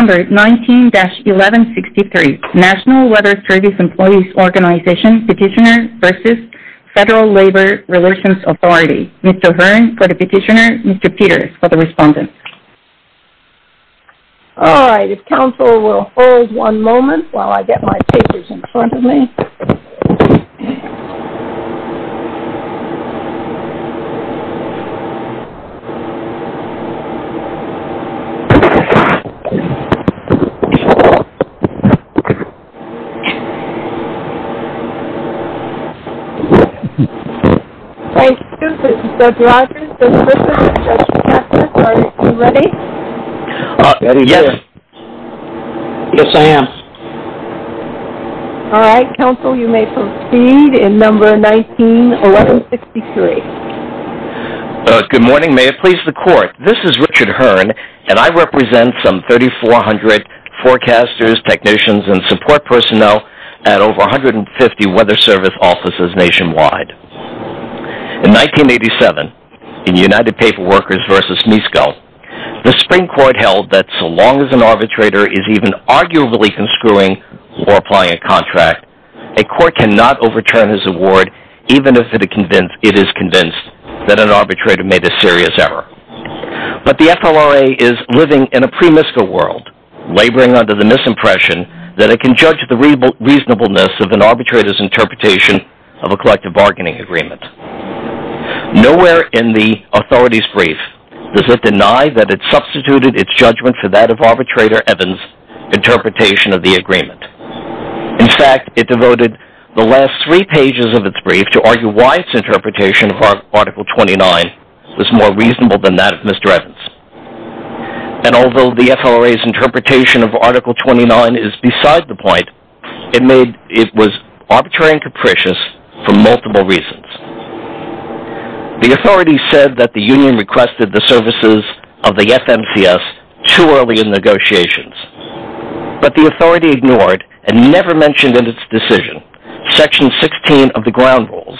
Mr. Hearn for the Petitioner, Mr. Peters for the Respondent. Mr. Rogers, this is Judge Cassius. Are you ready? Yes, yes I am. Alright, counsel you may proceed in number 19, 1163. Good morning, may it please the court. This is Richard Hearn and I represent some 3400 forecasters, technicians and support personnel at over 150 weather service offices nationwide. In 1987, in United Paper Workers v. Misco, the Supreme Court held that so long as an arbitrator is even arguably conscruing or applying a contract, a court cannot overturn his award even if it is convinced that an arbitrator made a serious error. But the FLRA is living in a pre-Misco world, laboring under the misimpression that it can judge the reasonableness of an arbitrator's interpretation of a collective bargaining agreement. Nowhere in the Authority's brief does it deny that it substituted its judgment for that of Arbitrator Evans' interpretation of the agreement. In fact, it devoted the last three pages of its brief to argue why its interpretation of Article 29 was more reasonable than that of Mr. Evans. And although the FLRA's interpretation of Article 29 is beside the point, it was arbitrary and capricious for multiple reasons. The Authority said that the Union requested the services of the FMCS too early in negotiations, but the Authority ignored and never mentioned in its decision Section 16 of the Ground Rules,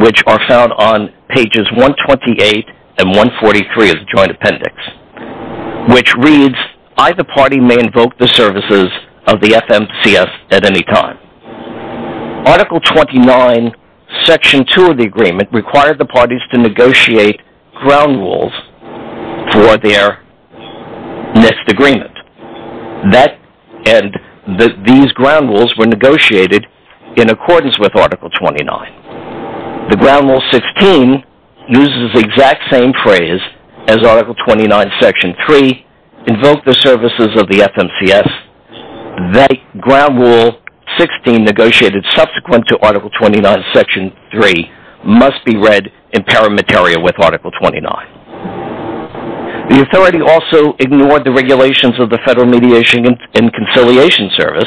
which are found on pages 128 and 143 of the Joint Appendix, which reads, Either party may invoke the services of the FMCS at any time. Article 29, Section 2 of the agreement required the parties to negotiate ground rules for their missed agreement. These ground rules were negotiated in accordance with Article 29. The Ground Rule 16 uses the exact same phrase as Article 29, Section 3, invoke the services of the FMCS. The Ground Rule 16 negotiated subsequent to Article 29, Section 3 must be read in paramateria with Article 29. The Authority also ignored the regulations of the Federal Mediation and Conciliation Service,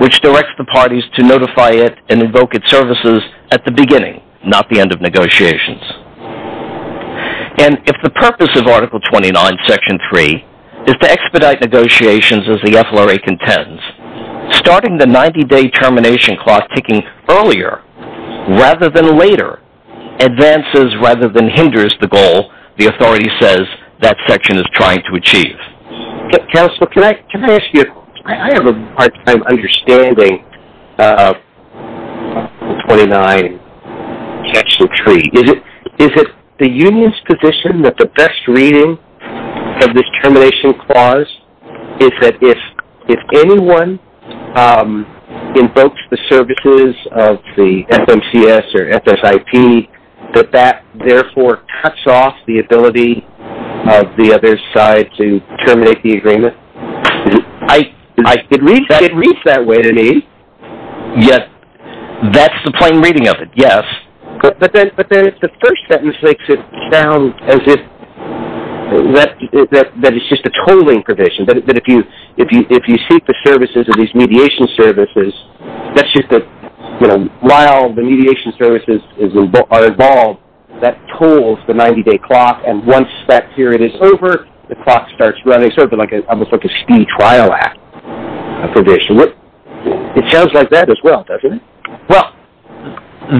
which directs the parties to notify it and invoke its services at the beginning, not the end of negotiations. And if the purpose of Article 29, Section 3 is to expedite negotiations as the FLRA contends, starting the 90-day termination clock ticking earlier rather than later advances rather than hinders the goal the Authority says that Section is trying to achieve. Counsel, can I ask you, I have a hard time understanding Article 29, Section 3. Is it the Union's position that the best reading of this termination clause is that if anyone invokes the services of the FMCS or FSIP, that that therefore cuts off the ability of the other side to terminate the agreement? It reads that way to me. Yes, that's the plain reading of it, yes. But then the first sentence makes it sound as if that is just a tolling provision, that if you seek the services of these mediation services, that's just that while the mediation services are involved, that tolls the 90-day clock, and once that period is over, the clock starts running, sort of like a speed trial act provision. It sounds like that as well, doesn't it? Well,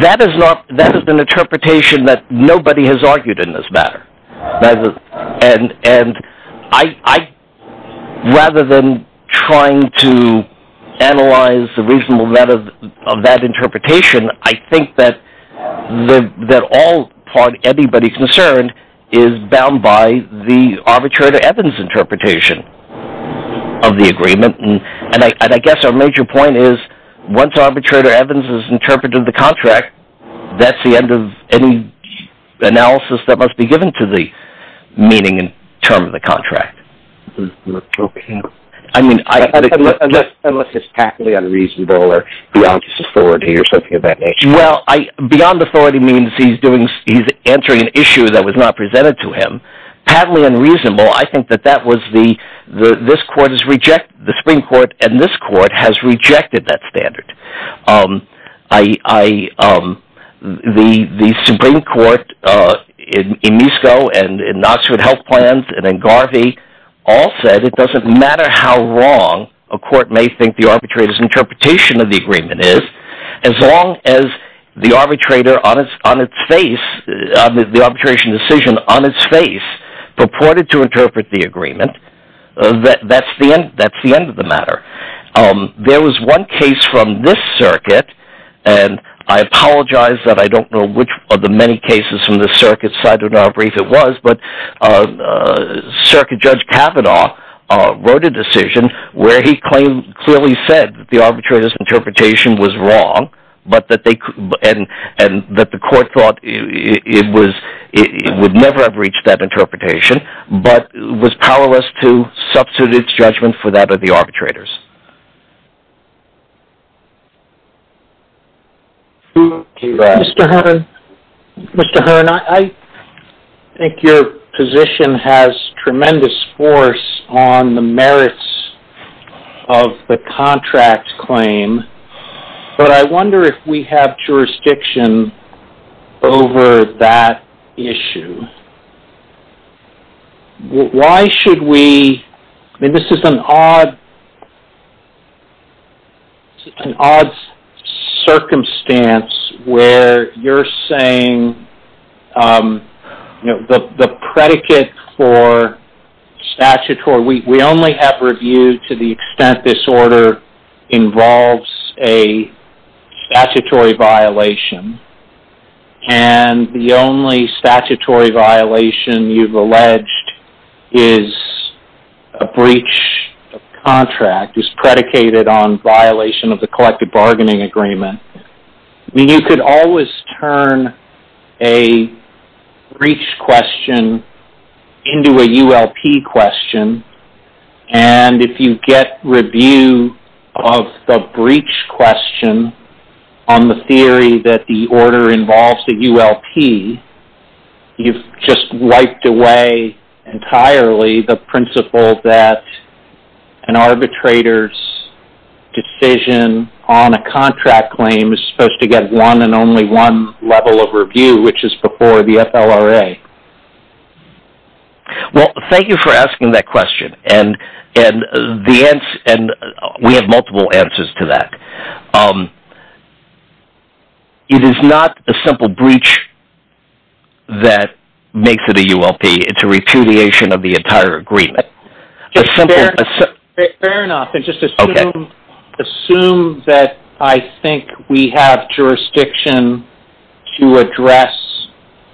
that is not, that is an interpretation that nobody has argued in this matter. And I, rather than trying to analyze the reasonable matter of that interpretation, I think that all, anybody concerned is bound by the Arbitrator Evans interpretation of the agreement. And I guess our major point is, once Arbitrator Evans has interpreted the contract, that's the end of any analysis that must be given to the meaning and term of the contract. Unless it's patently unreasonable or beyond his authority or something of that nature. Well, beyond authority means he's doing, he's answering an issue that was not presented to him. The Arbitrator, on its face, the arbitration decision on its face, purported to interpret the agreement. That's the end of the matter. There was one case from this circuit, and I apologize that I don't know which of the many cases from this circuit, so I don't know how brief it was, but Circuit Judge Kavanaugh wrote a decision where he claimed, clearly said, that the Arbitrator's interpretation was wrong, and that the court thought it would never have reached that interpretation, but was powerless to substitute its judgment for that of the Arbitrator's. Mr. Hearn, I think your position has tremendous force on the merits of the contract claim, but I wonder if we have jurisdiction over that issue. Why should we, I mean, this is an odd circumstance where you're saying, you know, the predicate for statutory, we only have review to the extent this order involves a statutory violation, and the only statutory violation you've alleged is a breach of contract, is predicated on violation of the collective bargaining agreement. You could always turn a breach question into a ULP question, and if you get review of the breach question on the theory that the order involves the ULP, you've just wiped away entirely the principle that an Arbitrator's decision on a contract claim is supposed to get one and only one level of review, which is before the FLRA. Well, thank you for asking that question, and we have multiple answers to that. It is not a simple breach that makes it a ULP, it's a repudiation of the entire agreement. Fair enough, and just assume that I think we have jurisdiction to address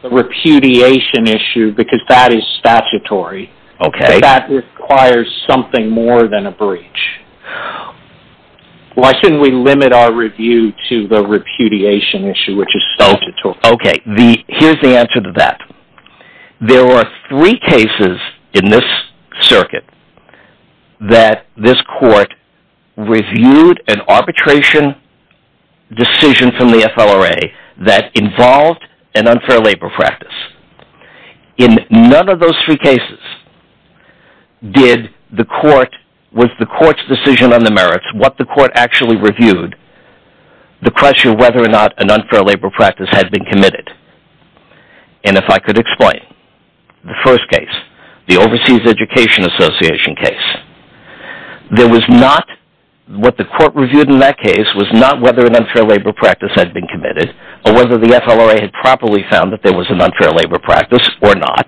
the repudiation issue, because that is statutory. Okay. That requires something more than a breach. Why shouldn't we limit our review to the repudiation issue, which is statutory? Okay, here's the answer to that. There are three cases in this circuit that this court reviewed an arbitration decision from the FLRA that involved an unfair labor practice. In none of those three cases was the court's decision on the merits, what the court actually reviewed, the question of whether or not an unfair labor practice had been committed. And if I could explain, the first case, the Overseas Education Association case, what the court reviewed in that case was not whether an unfair labor practice had been committed, or whether the FLRA had properly found that there was an unfair labor practice or not.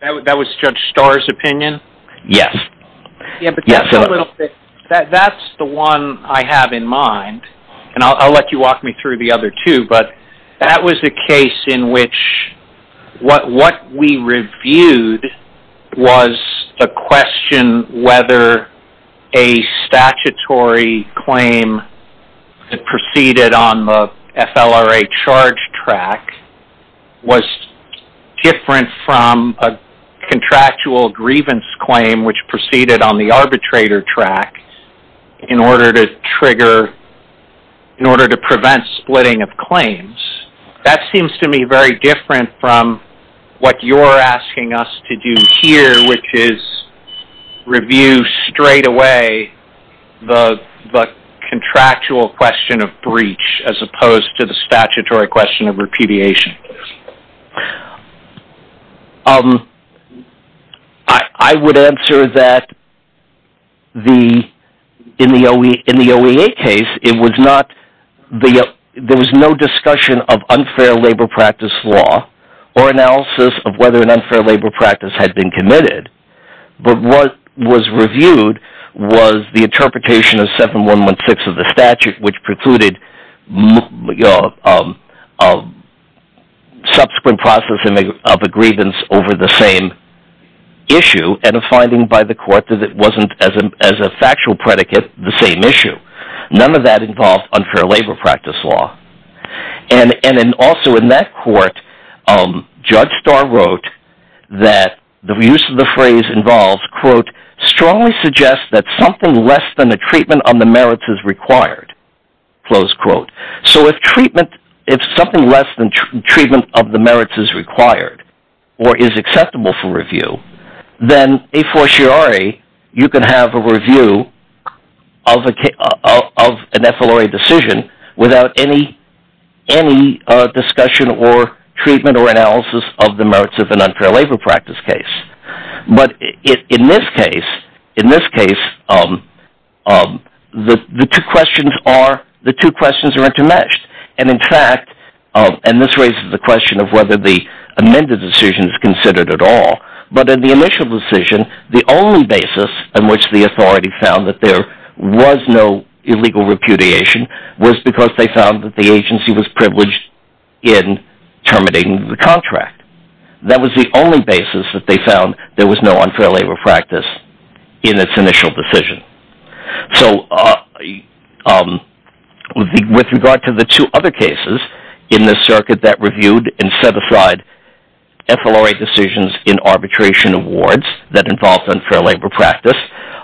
That was Judge Starr's opinion? Yes. That's the one I have in mind, and I'll let you walk me through the other two, but that was the case in which what we reviewed was a question whether a statutory claim that proceeded on the FLRA charge track was different from a contractual grievance claim which proceeded on the arbitrator track in order to trigger, in order to prevent splitting of claims. That seems to me very different from what you're asking us to do here, which is review straight away the contractual question of breach as opposed to the statutory question of repudiation. I would answer that in the OEA case, there was no discussion of unfair labor practice law or analysis of whether an unfair labor practice had been committed. But what was reviewed was the interpretation of 7116 of the statute, which precluded subsequent processing of a grievance over the same issue, and a finding by the court that it wasn't, as a factual predicate, the same issue. None of that involved unfair labor practice law. Also in that court, Judge Starr wrote that the use of the phrase involved, quote, strongly suggests that something less than the treatment of the merits is required, close quote. So if something less than treatment of the merits is required or is acceptable for review, then a fortiori you can have a review of an FLRA decision without any discussion or treatment or analysis of the merits of an unfair labor practice case. But in this case, the two questions are intermeshed. And this raises the question of whether the amended decision is considered at all. But in the initial decision, the only basis on which the authority found that there was no illegal repudiation was because they found that the agency was privileged in terminating the contract. That was the only basis that they found there was no unfair labor practice in its initial decision. So with regard to the two other cases in this circuit that reviewed and set aside FLRA decisions in arbitration awards that involved unfair labor practice,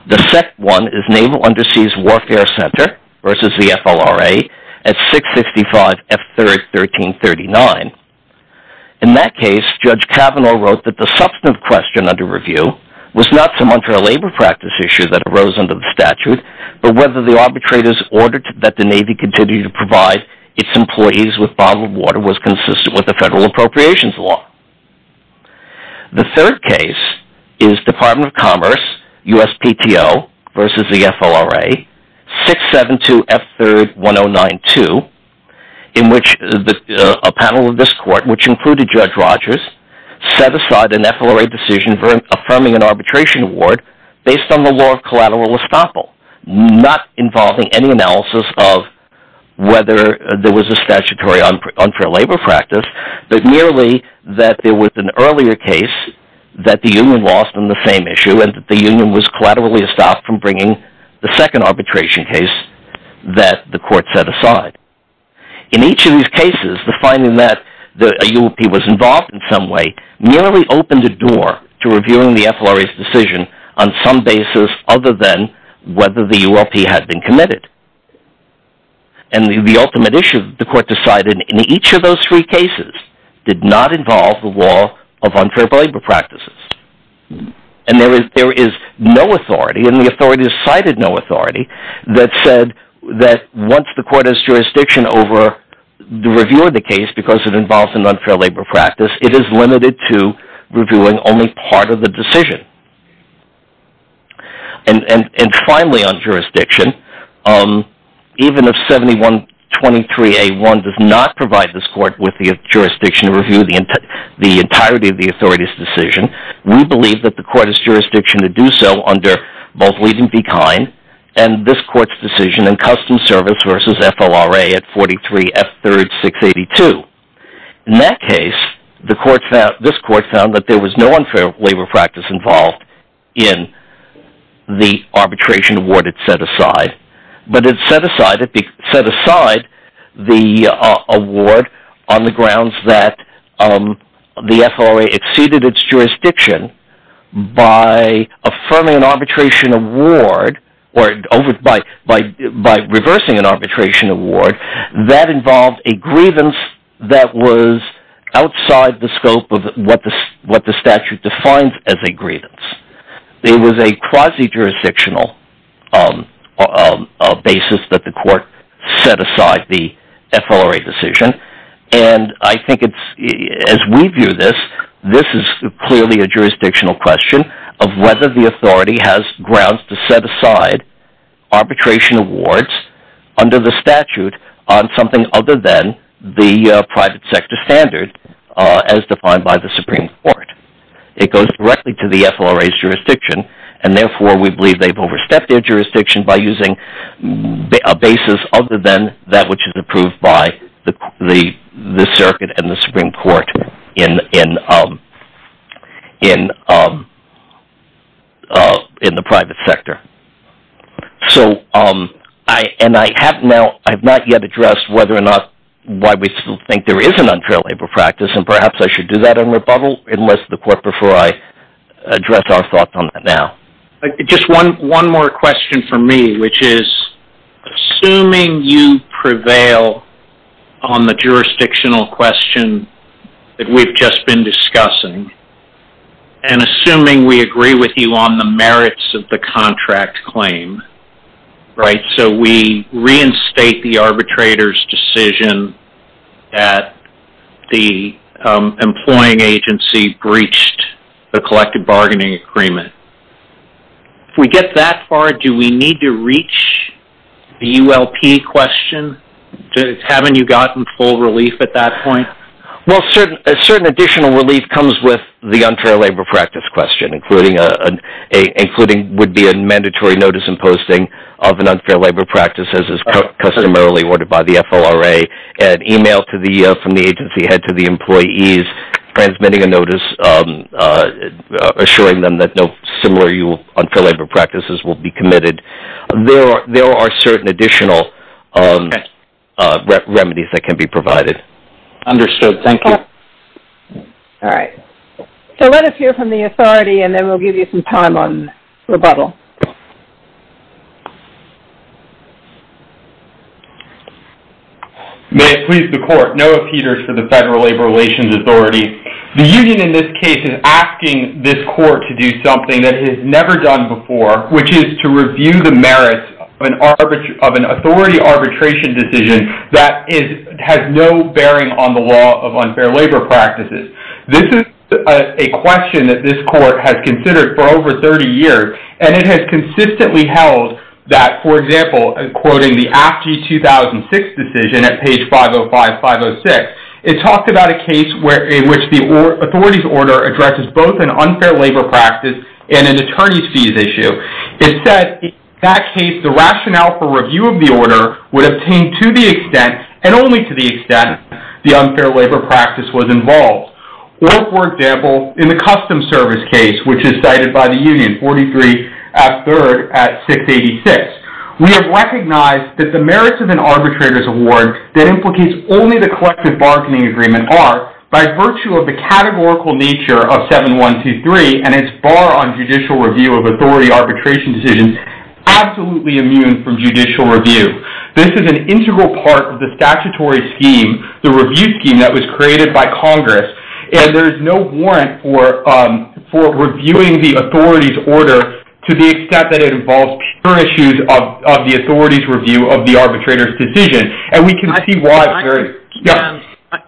the second one is Naval Underseas Warfare Center versus the FLRA at 655 F3rd 1339. In that case, Judge Kavanaugh wrote that the substantive question under review was not some unfair labor practice issue that arose under the statute, but whether the arbitrators ordered that the Navy continue to provide its employees with bottled water was consistent with the federal appropriations law. The third case is Department of Commerce, USPTO versus the FLRA, 672 F3rd 1092, in which a panel of this court, which included Judge Rogers, set aside an FLRA decision affirming an arbitration award based on the law of collateral estoppel, not involving any analysis of whether there was a statutory unfair labor practice, but merely that there was an earlier case that the union lost on the same issue and that the union was collaterally stopped from bringing the second arbitration case that the court set aside. In each of these cases, the finding that a ULP was involved in some way merely opened the door to reviewing the FLRA's decision on some basis other than whether the ULP had been committed, and the ultimate issue the court decided in each of those three cases did not involve the law of unfair labor practices. There is no authority, and the authorities cited no authority, that said that once the court has jurisdiction over the review of the case because it involves an unfair labor practice, it is limited to reviewing only part of the decision. And finally on jurisdiction, even if 7123A1 does not provide this court with the jurisdiction to review the entirety of the authority's decision, we believe that the court has jurisdiction to do so under both Leeson v. Kine and this court's decision in Customs Service versus FLRA at 43 F3rd 682. In that case, this court found that there was no unfair labor practice involved in the arbitration award it set aside. But it set aside the award on the grounds that the FLRA exceeded its jurisdiction by reversing an arbitration award that involved a grievance that was outside the scope of what the statute defines as a grievance. It was a quasi-jurisdictional basis that the court set aside the FLRA decision, and I think as we view this, this is clearly a jurisdictional question of whether the authority has grounds to set aside arbitration awards under the statute on something other than the private sector standard as defined by the Supreme Court. It goes directly to the FLRA's jurisdiction, and therefore we believe they've overstepped their jurisdiction by using a basis other than that which is approved by the circuit and the Supreme Court in the private sector. I have not yet addressed why we still think there is an unfair labor practice, and perhaps I should do that in rebuttal and address the court before I address our thoughts on that now. Just one more question from me, which is, assuming you prevail on the jurisdictional question that we've just been discussing, and assuming we agree with you on the merits of the contract claim, right, so we reinstate the arbitrator's decision that the employing agency breached the collective bargaining agreement. If we get that far, do we need to reach the ULP question? Haven't you gotten full relief at that point? Well, a certain additional relief comes with the unfair labor practice question, including what would be a mandatory notice in posting of an unfair labor practice as is customarily ordered by the FLRA, an email from the agency head to the employees transmitting a notice assuring them that no similar unfair labor practices will be committed. There are certain additional remedies that can be provided. Understood. Thank you. All right. So let us hear from the authority, and then we'll give you some time on rebuttal. May it please the court. Noah Peters for the Federal Labor Relations Authority. The union in this case is asking this court to do something that it has never done before, which is to review the merits of an authority arbitration decision that has no bearing on the law of unfair labor practices. This is a question that this court has considered for over 30 years, and it has consistently held that, for example, quoting the AFG 2006 decision at page 505-506, it talked about a case in which the authority's order addresses both an unfair labor practice and an attorney's fees issue. It said, in that case, the rationale for review of the order would obtain to the extent and only to the extent the unfair labor practice was involved. Or, for example, in the custom service case, which is cited by the union, 43-3-686, we have recognized that the merits of an arbitrator's award that implicates only the collective bargaining agreement are, by virtue of the categorical nature of 7-1-2-3 and its bar on judicial review of authority arbitration decisions, absolutely immune from judicial review. This is an integral part of the statutory scheme, the review scheme that was created by Congress, and there is no warrant for reviewing the authority's order to the extent that it involves pure issues of the authority's review of the arbitrator's decision.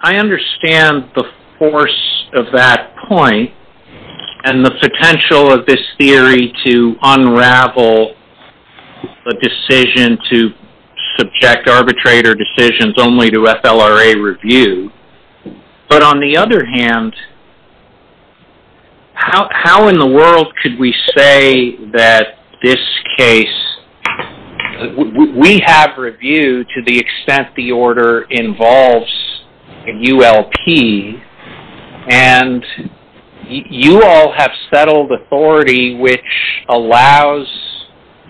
I understand the force of that point and the potential of this theory to unravel a decision to subject arbitrator decisions only to FLRA review, but on the other hand, how in the world could we say that this case... ...to the extent the order involves a ULP, and you all have settled authority which allows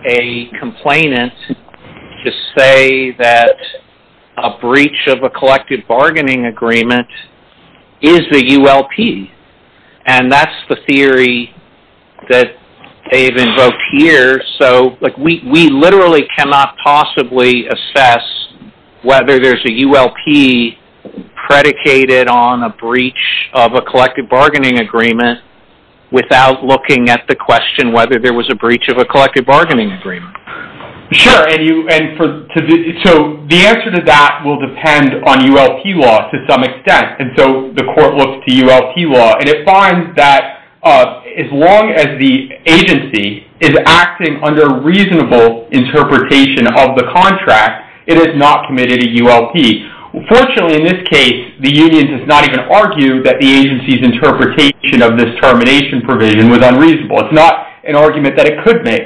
a complainant to say that a breach of a collective bargaining agreement is the ULP, and that's the theory that they've invoked here. We literally cannot possibly assess whether there's a ULP predicated on a breach of a collective bargaining agreement without looking at the question whether there was a breach of a collective bargaining agreement. Sure, and so the answer to that will depend on ULP law to some extent, and so the court looks to ULP law, and it finds that as long as the agency is acting under reasonable interpretation of the contract, it has not committed a ULP. Fortunately, in this case, the union does not even argue that the agency's interpretation of this termination provision was unreasonable. It's not an argument that it could make.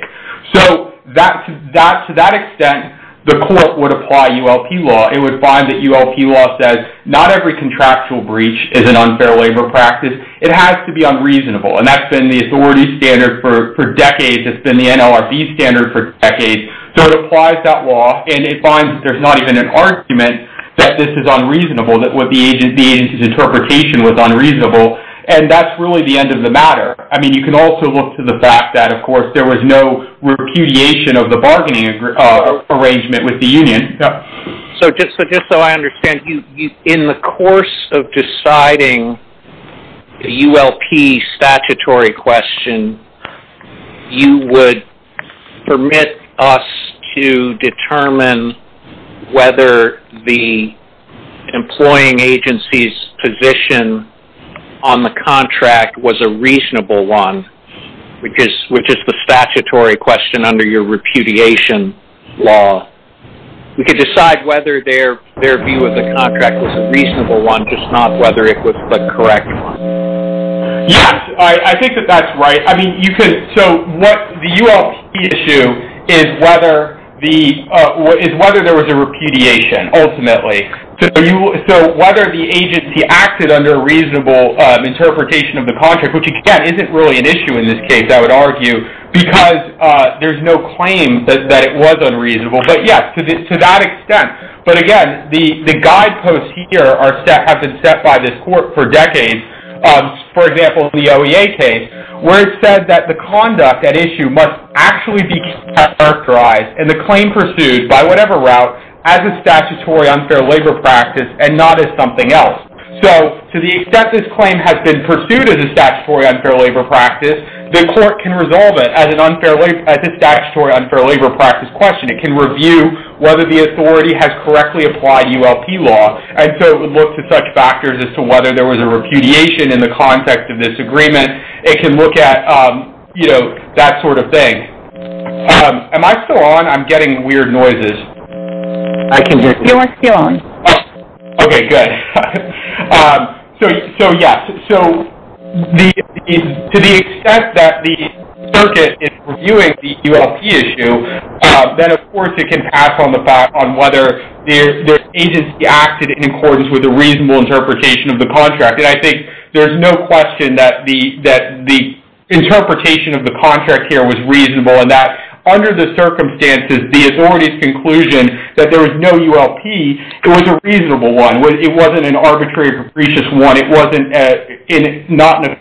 So to that extent, the court would apply ULP law. It would find that ULP law says not every contractual breach is an unfair labor practice. It has to be unreasonable, and that's been the authority's standard for decades. It's been the NLRB's standard for decades, so it applies that law, and it finds that there's not even an argument that this is unreasonable, that the agency's interpretation was unreasonable, and that's really the end of the matter. I mean, you can also look to the fact that, of course, there was no repudiation of the bargaining arrangement with the union. So just so I understand, in the course of deciding the ULP statutory question, you would permit us to determine whether the employing agency's position on the contract was a reasonable one, which is the statutory question under your repudiation law. We could decide whether their view of the contract was a reasonable one, just not whether it was a correct one. Yes, I think that that's right. I mean, the ULP issue is whether there was a repudiation, ultimately. So whether the agency acted under a reasonable interpretation of the contract, which, again, isn't really an issue in this case, I would argue, because there's no claim that it was unreasonable. But yes, to that extent. But again, the guideposts here have been set by this court for decades. For example, the OEA case, where it said that the conduct at issue must actually be characterized, and the claim pursued, by whatever route, as a statutory unfair labor practice and not as something else. So to the extent this claim has been pursued as a statutory unfair labor practice, the court can resolve it as a statutory unfair labor practice question. It can review whether the authority has correctly applied ULP law. And so it would look to such factors as to whether there was a repudiation in the context of this agreement. It can look at, you know, that sort of thing. Am I still on? I'm getting weird noises. I can hear you. You are still on. Okay, good. So, yes. So, to the extent that the circuit is reviewing the ULP issue, then of course it can pass on the fact on whether the agency acted in accordance with a reasonable interpretation of the contract. And I think there's no question that the interpretation of the contract here was reasonable, and that under the circumstances, the authority's conclusion that there was no ULP, it was a reasonable one. It wasn't an arbitrary capricious one. It wasn't not in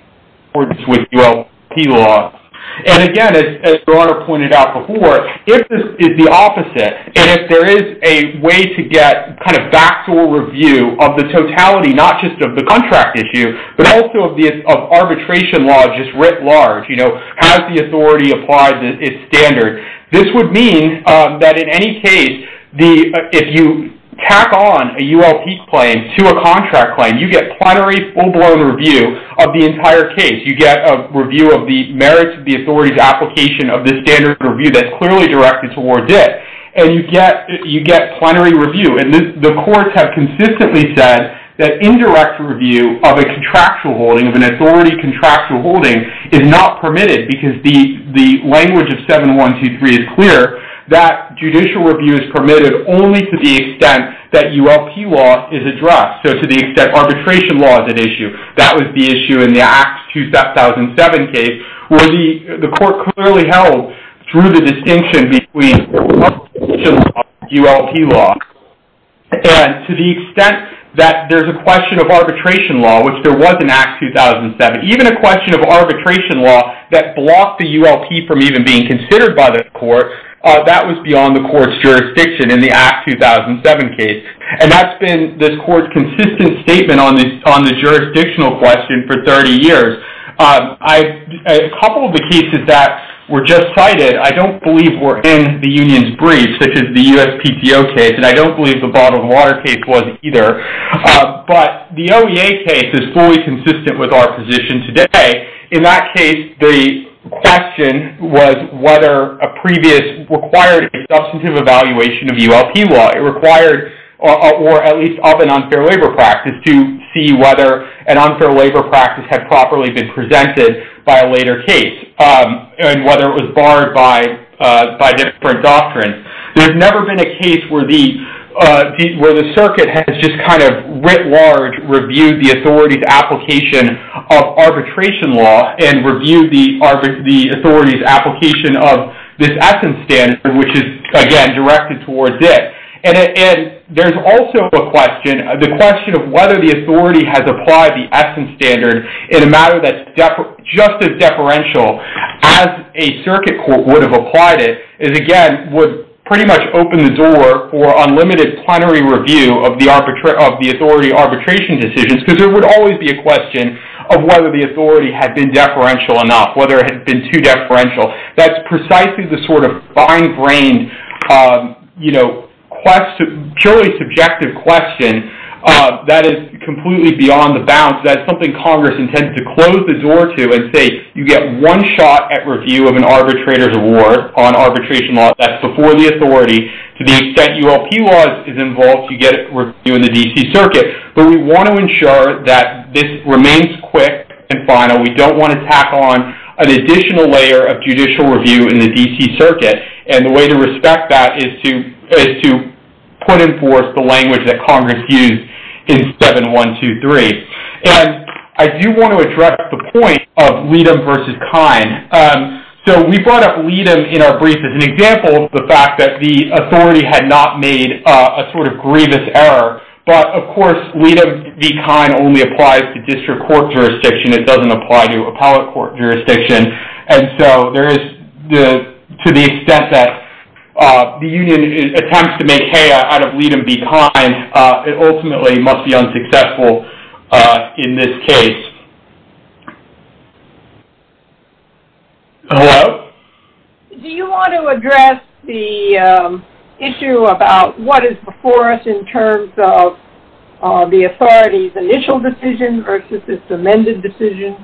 accordance with ULP law. And again, as Your Honor pointed out before, if this is the opposite, and if there is a way to get kind of factual review of the totality, not just of the contract issue, but also of arbitration law just writ large, you know, has the authority applied its standard, this would mean that in any case, if you tack on a ULP claim to a contract claim, you get plenary, full-blown review of the entire case. You get a review of the merits of the authority's application of this standard of review that's clearly directed towards it. And you get plenary review. And the courts have consistently said that indirect review of a contractual holding, of an authority contractual holding, is not permitted because the language of 7123 is clear. That judicial review is permitted only to the extent that ULP law is addressed. So, to the extent arbitration law is at issue. That was the issue in the Act 2007 case where the court clearly held through the distinction between arbitration law and ULP law. And to the extent that there's a question of arbitration law, which there was in Act 2007, even a question of arbitration law that blocked the ULP from even being considered by the court, that was beyond the court's jurisdiction in the Act 2007 case. And that's been this court's consistent statement on the jurisdictional question for 30 years. A couple of the cases that were just cited, I don't believe were in the union's brief, such as the USPTO case. And I don't believe the Bottle of Water case was either. But the OEA case is fully consistent with our position today. In that case, the question was whether a previous required substantive evaluation of ULP law. It required, or at least of an unfair labor practice, to see whether an unfair labor practice had properly been presented by a later case. And whether it was barred by different doctrines. There's never been a case where the circuit has just kind of writ large reviewed the authority's application of arbitration law. And reviewed the authority's application of this essence standard, which is, again, directed towards it. And there's also a question, the question of whether the authority has applied the essence standard in a matter that's just as deferential as a circuit court would have applied it. Is, again, would pretty much open the door for unlimited plenary review of the authority arbitration decisions. Because there would always be a question of whether the authority had been deferential enough, whether it had been too deferential. That's precisely the sort of fine-brained, you know, purely subjective question that is completely beyond the bounds. That's something Congress intends to close the door to and say, you get one shot at review of an arbitrator's award on arbitration law. That's before the authority. To the extent ULP law is involved, you get it reviewed in the D.C. Circuit. But we want to ensure that this remains quick and final. We don't want to tack on an additional layer of judicial review in the D.C. Circuit. And the way to respect that is to put in force the language that Congress used in 7123. And I do want to address the point of Leadham versus Kine. So we brought up Leadham in our brief as an example of the fact that the authority had not made a sort of grievous error. But, of course, Leadham v. Kine only applies to district court jurisdiction. It doesn't apply to appellate court jurisdiction. And so there is to the extent that the union attempts to make hay out of Leadham v. Kine, it ultimately must be unsuccessful in this case. Hello? Do you want to address the issue about what is before us in terms of the authority's initial decision versus its amended decision?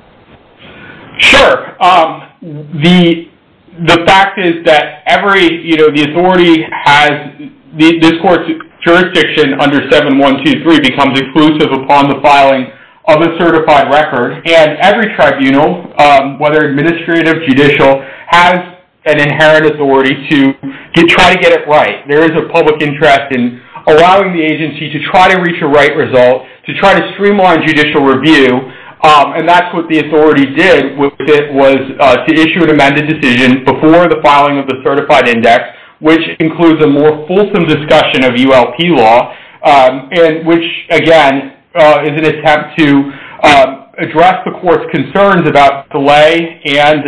Sure. The fact is that every, you know, the authority has this court's jurisdiction under 7123 becomes inclusive upon the filing of a certified record. And every tribunal, whether administrative, judicial, has an inherent authority to try to get it right. There is a public interest in allowing the agency to try to reach a right result, to try to streamline judicial review. And that's what the authority did with it was to issue an amended decision before the filing of the certified index, which includes a more fulsome discussion of ULP law, which, again, is an attempt to address the court's concerns about delay and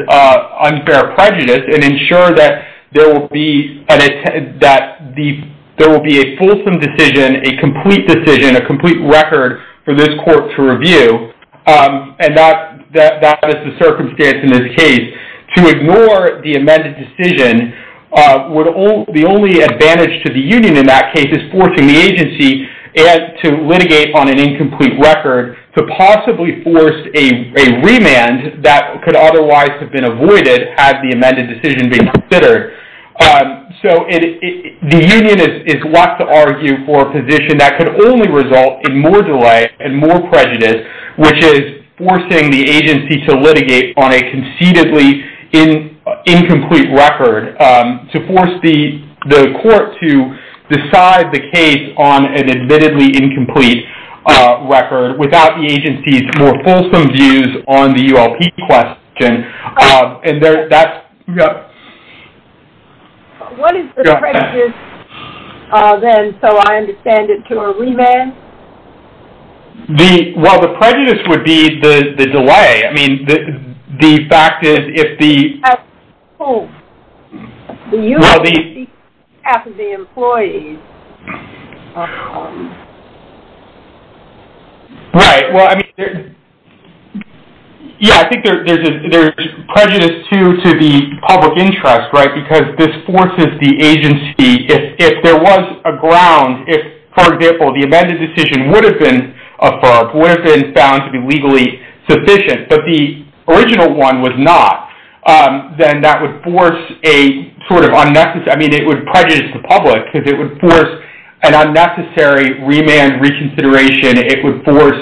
unfair prejudice and ensure that there will be a fulsome decision, a complete decision, a complete record for this court to review. And that is the circumstance in this case. To ignore the amended decision, the only advantage to the union in that case is forcing the agency to litigate on an incomplete record to possibly force a remand that could otherwise have been avoided had the amended decision been considered. So the union is left to argue for a position that could only result in more delay and more prejudice, which is forcing the agency to litigate on a conceitedly incomplete record, to force the court to decide the case on an admittedly incomplete record without the agency's more fulsome views on the ULP question. What is the prejudice then, so I understand it, to a remand? Well, the prejudice would be the delay. I mean, the fact is if the... Half of the employees. Right. Yeah, I think there's prejudice, too, to the public interest, right, because this forces the agency, if there was a ground, if, for example, the amended decision would have been affirmed, would have been found to be legally sufficient, but the original one was not, then that would force a sort of unnecessary, I mean, it would prejudice the public because it would force an unnecessary remand reconsideration. It would force,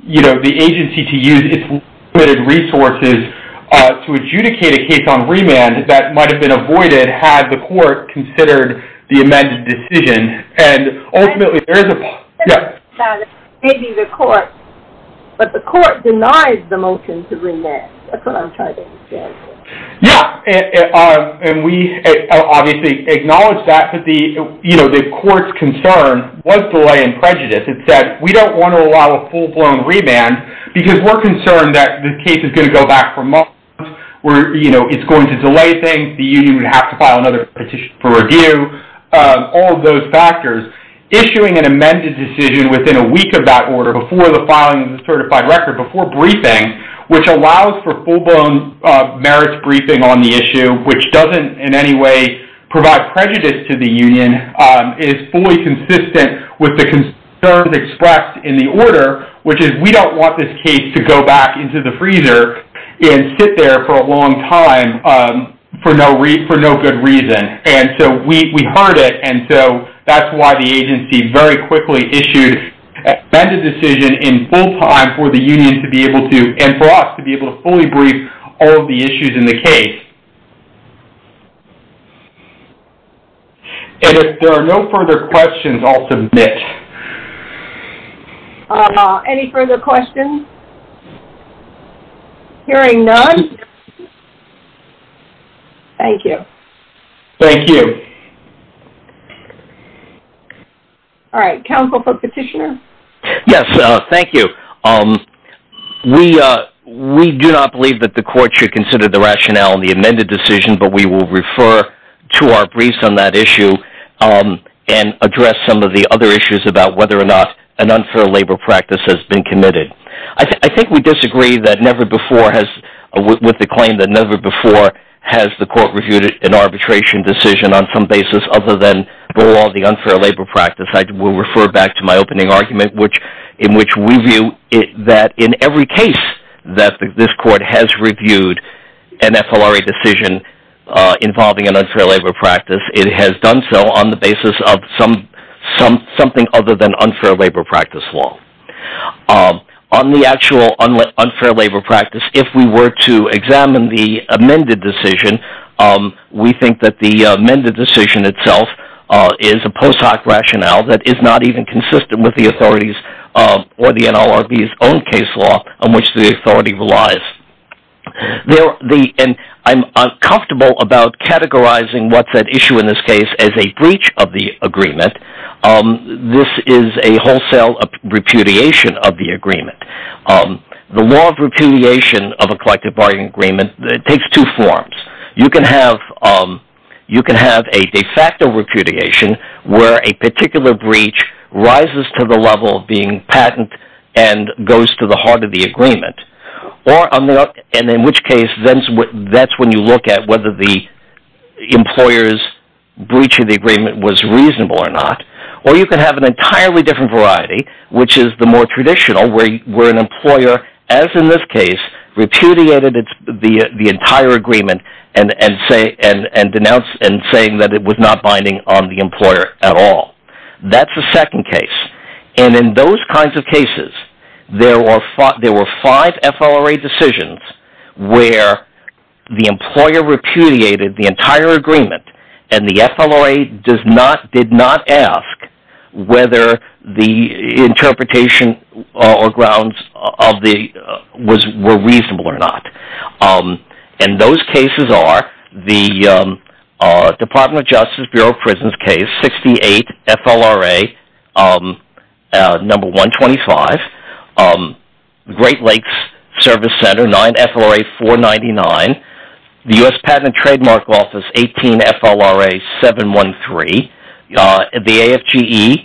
you know, the agency to use its limited resources to adjudicate a case on remand that might have been avoided had the court considered the amended decision, and ultimately there is a... Maybe the court, but the court denies the motion to remand. That's what I'm trying to understand. Yeah, and we obviously acknowledge that, but the, you know, the court's concern was delay and prejudice. It said, we don't want to allow a full-blown remand because we're concerned that the case is going to go back for months. We're, you know, it's going to delay things. The union would have to file another petition for review, all of those factors. Issuing an amended decision within a week of that order, before the filing of the certified record, before briefing, which allows for full-blown merits briefing on the issue, which doesn't in any way provide prejudice to the union. It is fully consistent with the concerns expressed in the order, which is we don't want this case to go back into the freezer and sit there for a long time for no good reason. And so we heard it, and so that's why the agency very quickly issued an amended decision in full time for the union to be able to, and for us to be able to fully brief all of the issues in the case. And if there are no further questions, I'll submit. Any further questions? Hearing none. Thank you. Thank you. All right. Counsel for petitioner? Yes, thank you. We do not believe that the court should consider the rationale in the amended decision, but we will refer to our briefs on that issue and address some of the other issues about whether or not an unfair labor practice has been committed. I think we disagree with the claim that never before has the court reviewed an arbitration decision on some basis other than the law of the unfair labor practice. I will refer back to my opening argument in which we view that in every case that this court has reviewed an FLRA decision involving an unfair labor practice, it has done so on the basis of something other than unfair labor practice law. On the actual unfair labor practice, if we were to examine the amended decision, we think that the amended decision itself is a post hoc rationale that is not even consistent with the authorities or the NLRB's own case law on which the authority relies. I'm uncomfortable about categorizing what's at issue in this case as a breach of the agreement. This is a wholesale repudiation of the agreement. The law of repudiation of a collective bargaining agreement takes two forms. You can have a de facto repudiation where a particular breach rises to the level of being patent and goes to the heart of the agreement. In which case, that's when you look at whether the employer's breach of the agreement was reasonable or not. Or you can have an entirely different variety, which is the more traditional, where an employer, as in this case, repudiated the entire agreement and denounced it, saying that it was not binding on the employer at all. That's the second case. In those kinds of cases, there were five FLRA decisions where the employer repudiated the entire agreement and the FLRA did not ask whether the interpretation or grounds were reasonable or not. Those cases are the Department of Justice Bureau Prisons case, 68 FLRA 125, Great Lakes Service Center, 9 FLRA 499, the U.S. Patent and Trademark Office, 18 FLRA 713, the AFGE,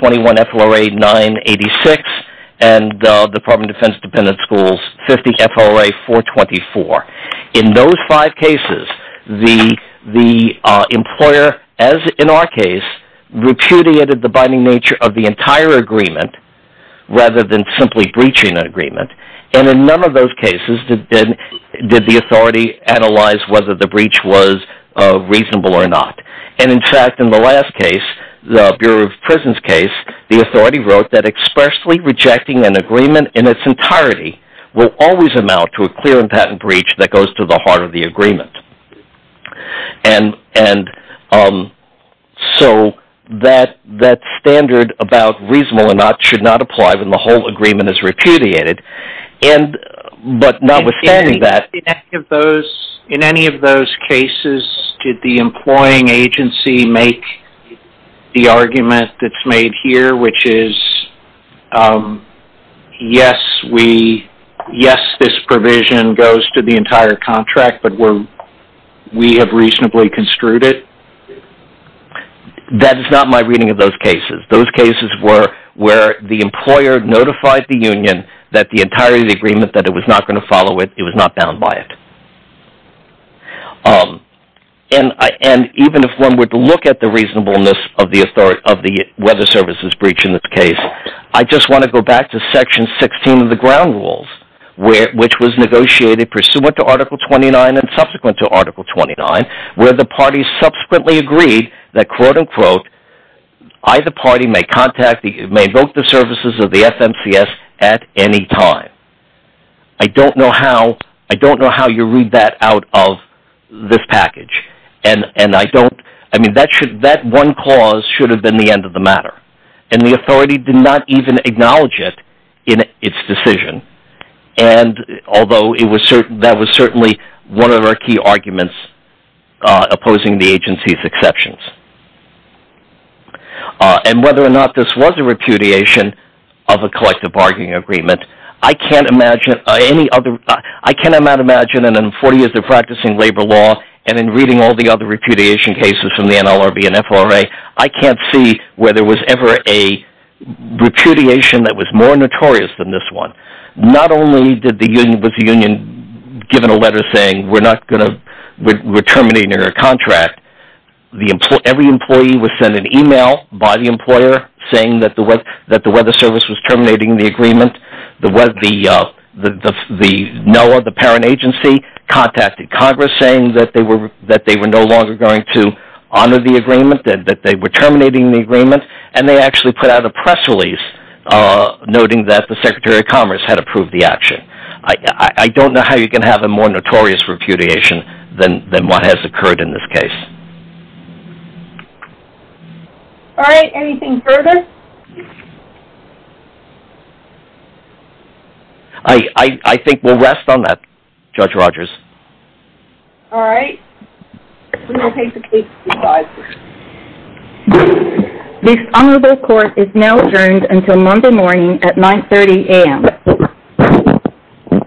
21 FLRA 986, and the Department of Defense Dependent Schools, 50 FLRA 424. In those five cases, the employer, as in our case, repudiated the binding nature of the entire agreement and in none of those cases did the authority analyze whether the breach was reasonable or not. In fact, in the last case, the Bureau of Prisons case, the authority wrote that expressly rejecting an agreement in its entirety will always amount to a clear and patent breach that goes to the heart of the agreement. So that standard about reasonable or not should not apply when the whole agreement is repudiated. But notwithstanding that... In any of those cases, did the employing agency make the argument that's made here, which is, yes, this provision goes to the entire contract, but we have reasonably construed it? That is not my reading of those cases. Those cases were where the employer notified the union that the entirety of the agreement, that it was not going to follow it, it was not bound by it. And even if one were to look at the reasonableness of the Weather Services Breach in this case, I just want to go back to Section 16 of the Ground Rules, which was negotiated pursuant to Article 29 and subsequent to Article 29, where the parties subsequently agreed that, quote-unquote, either party may vote the services of the FNCS at any time. I don't know how you read that out of this package. And that one clause should have been the end of the matter. And the authority did not even acknowledge it in its decision, although that was certainly one of our key arguments opposing the agency's exceptions. And whether or not this was a repudiation of a collective bargaining agreement, I cannot imagine in 40 years of practicing labor law and in reading all the other repudiation cases from the NLRB and FRA, I can't see whether there was ever a repudiation that was more notorious than this one. Not only was the union given a letter saying we're terminating our contract, every employee was sent an email by the employer saying that the Weather Service was terminating the agreement. The NOAA, the parent agency, contacted Congress saying that they were no longer going to honor the agreement, that they were terminating the agreement, and they actually put out a press release noting that the Secretary of Commerce had approved the action. I don't know how you can have a more notorious repudiation than what has occurred in this case. All right, anything further? I think we'll rest on that, Judge Rogers. All right, we will take the case to the judge. This honorable court is now adjourned until Monday morning at 9.30 a.m.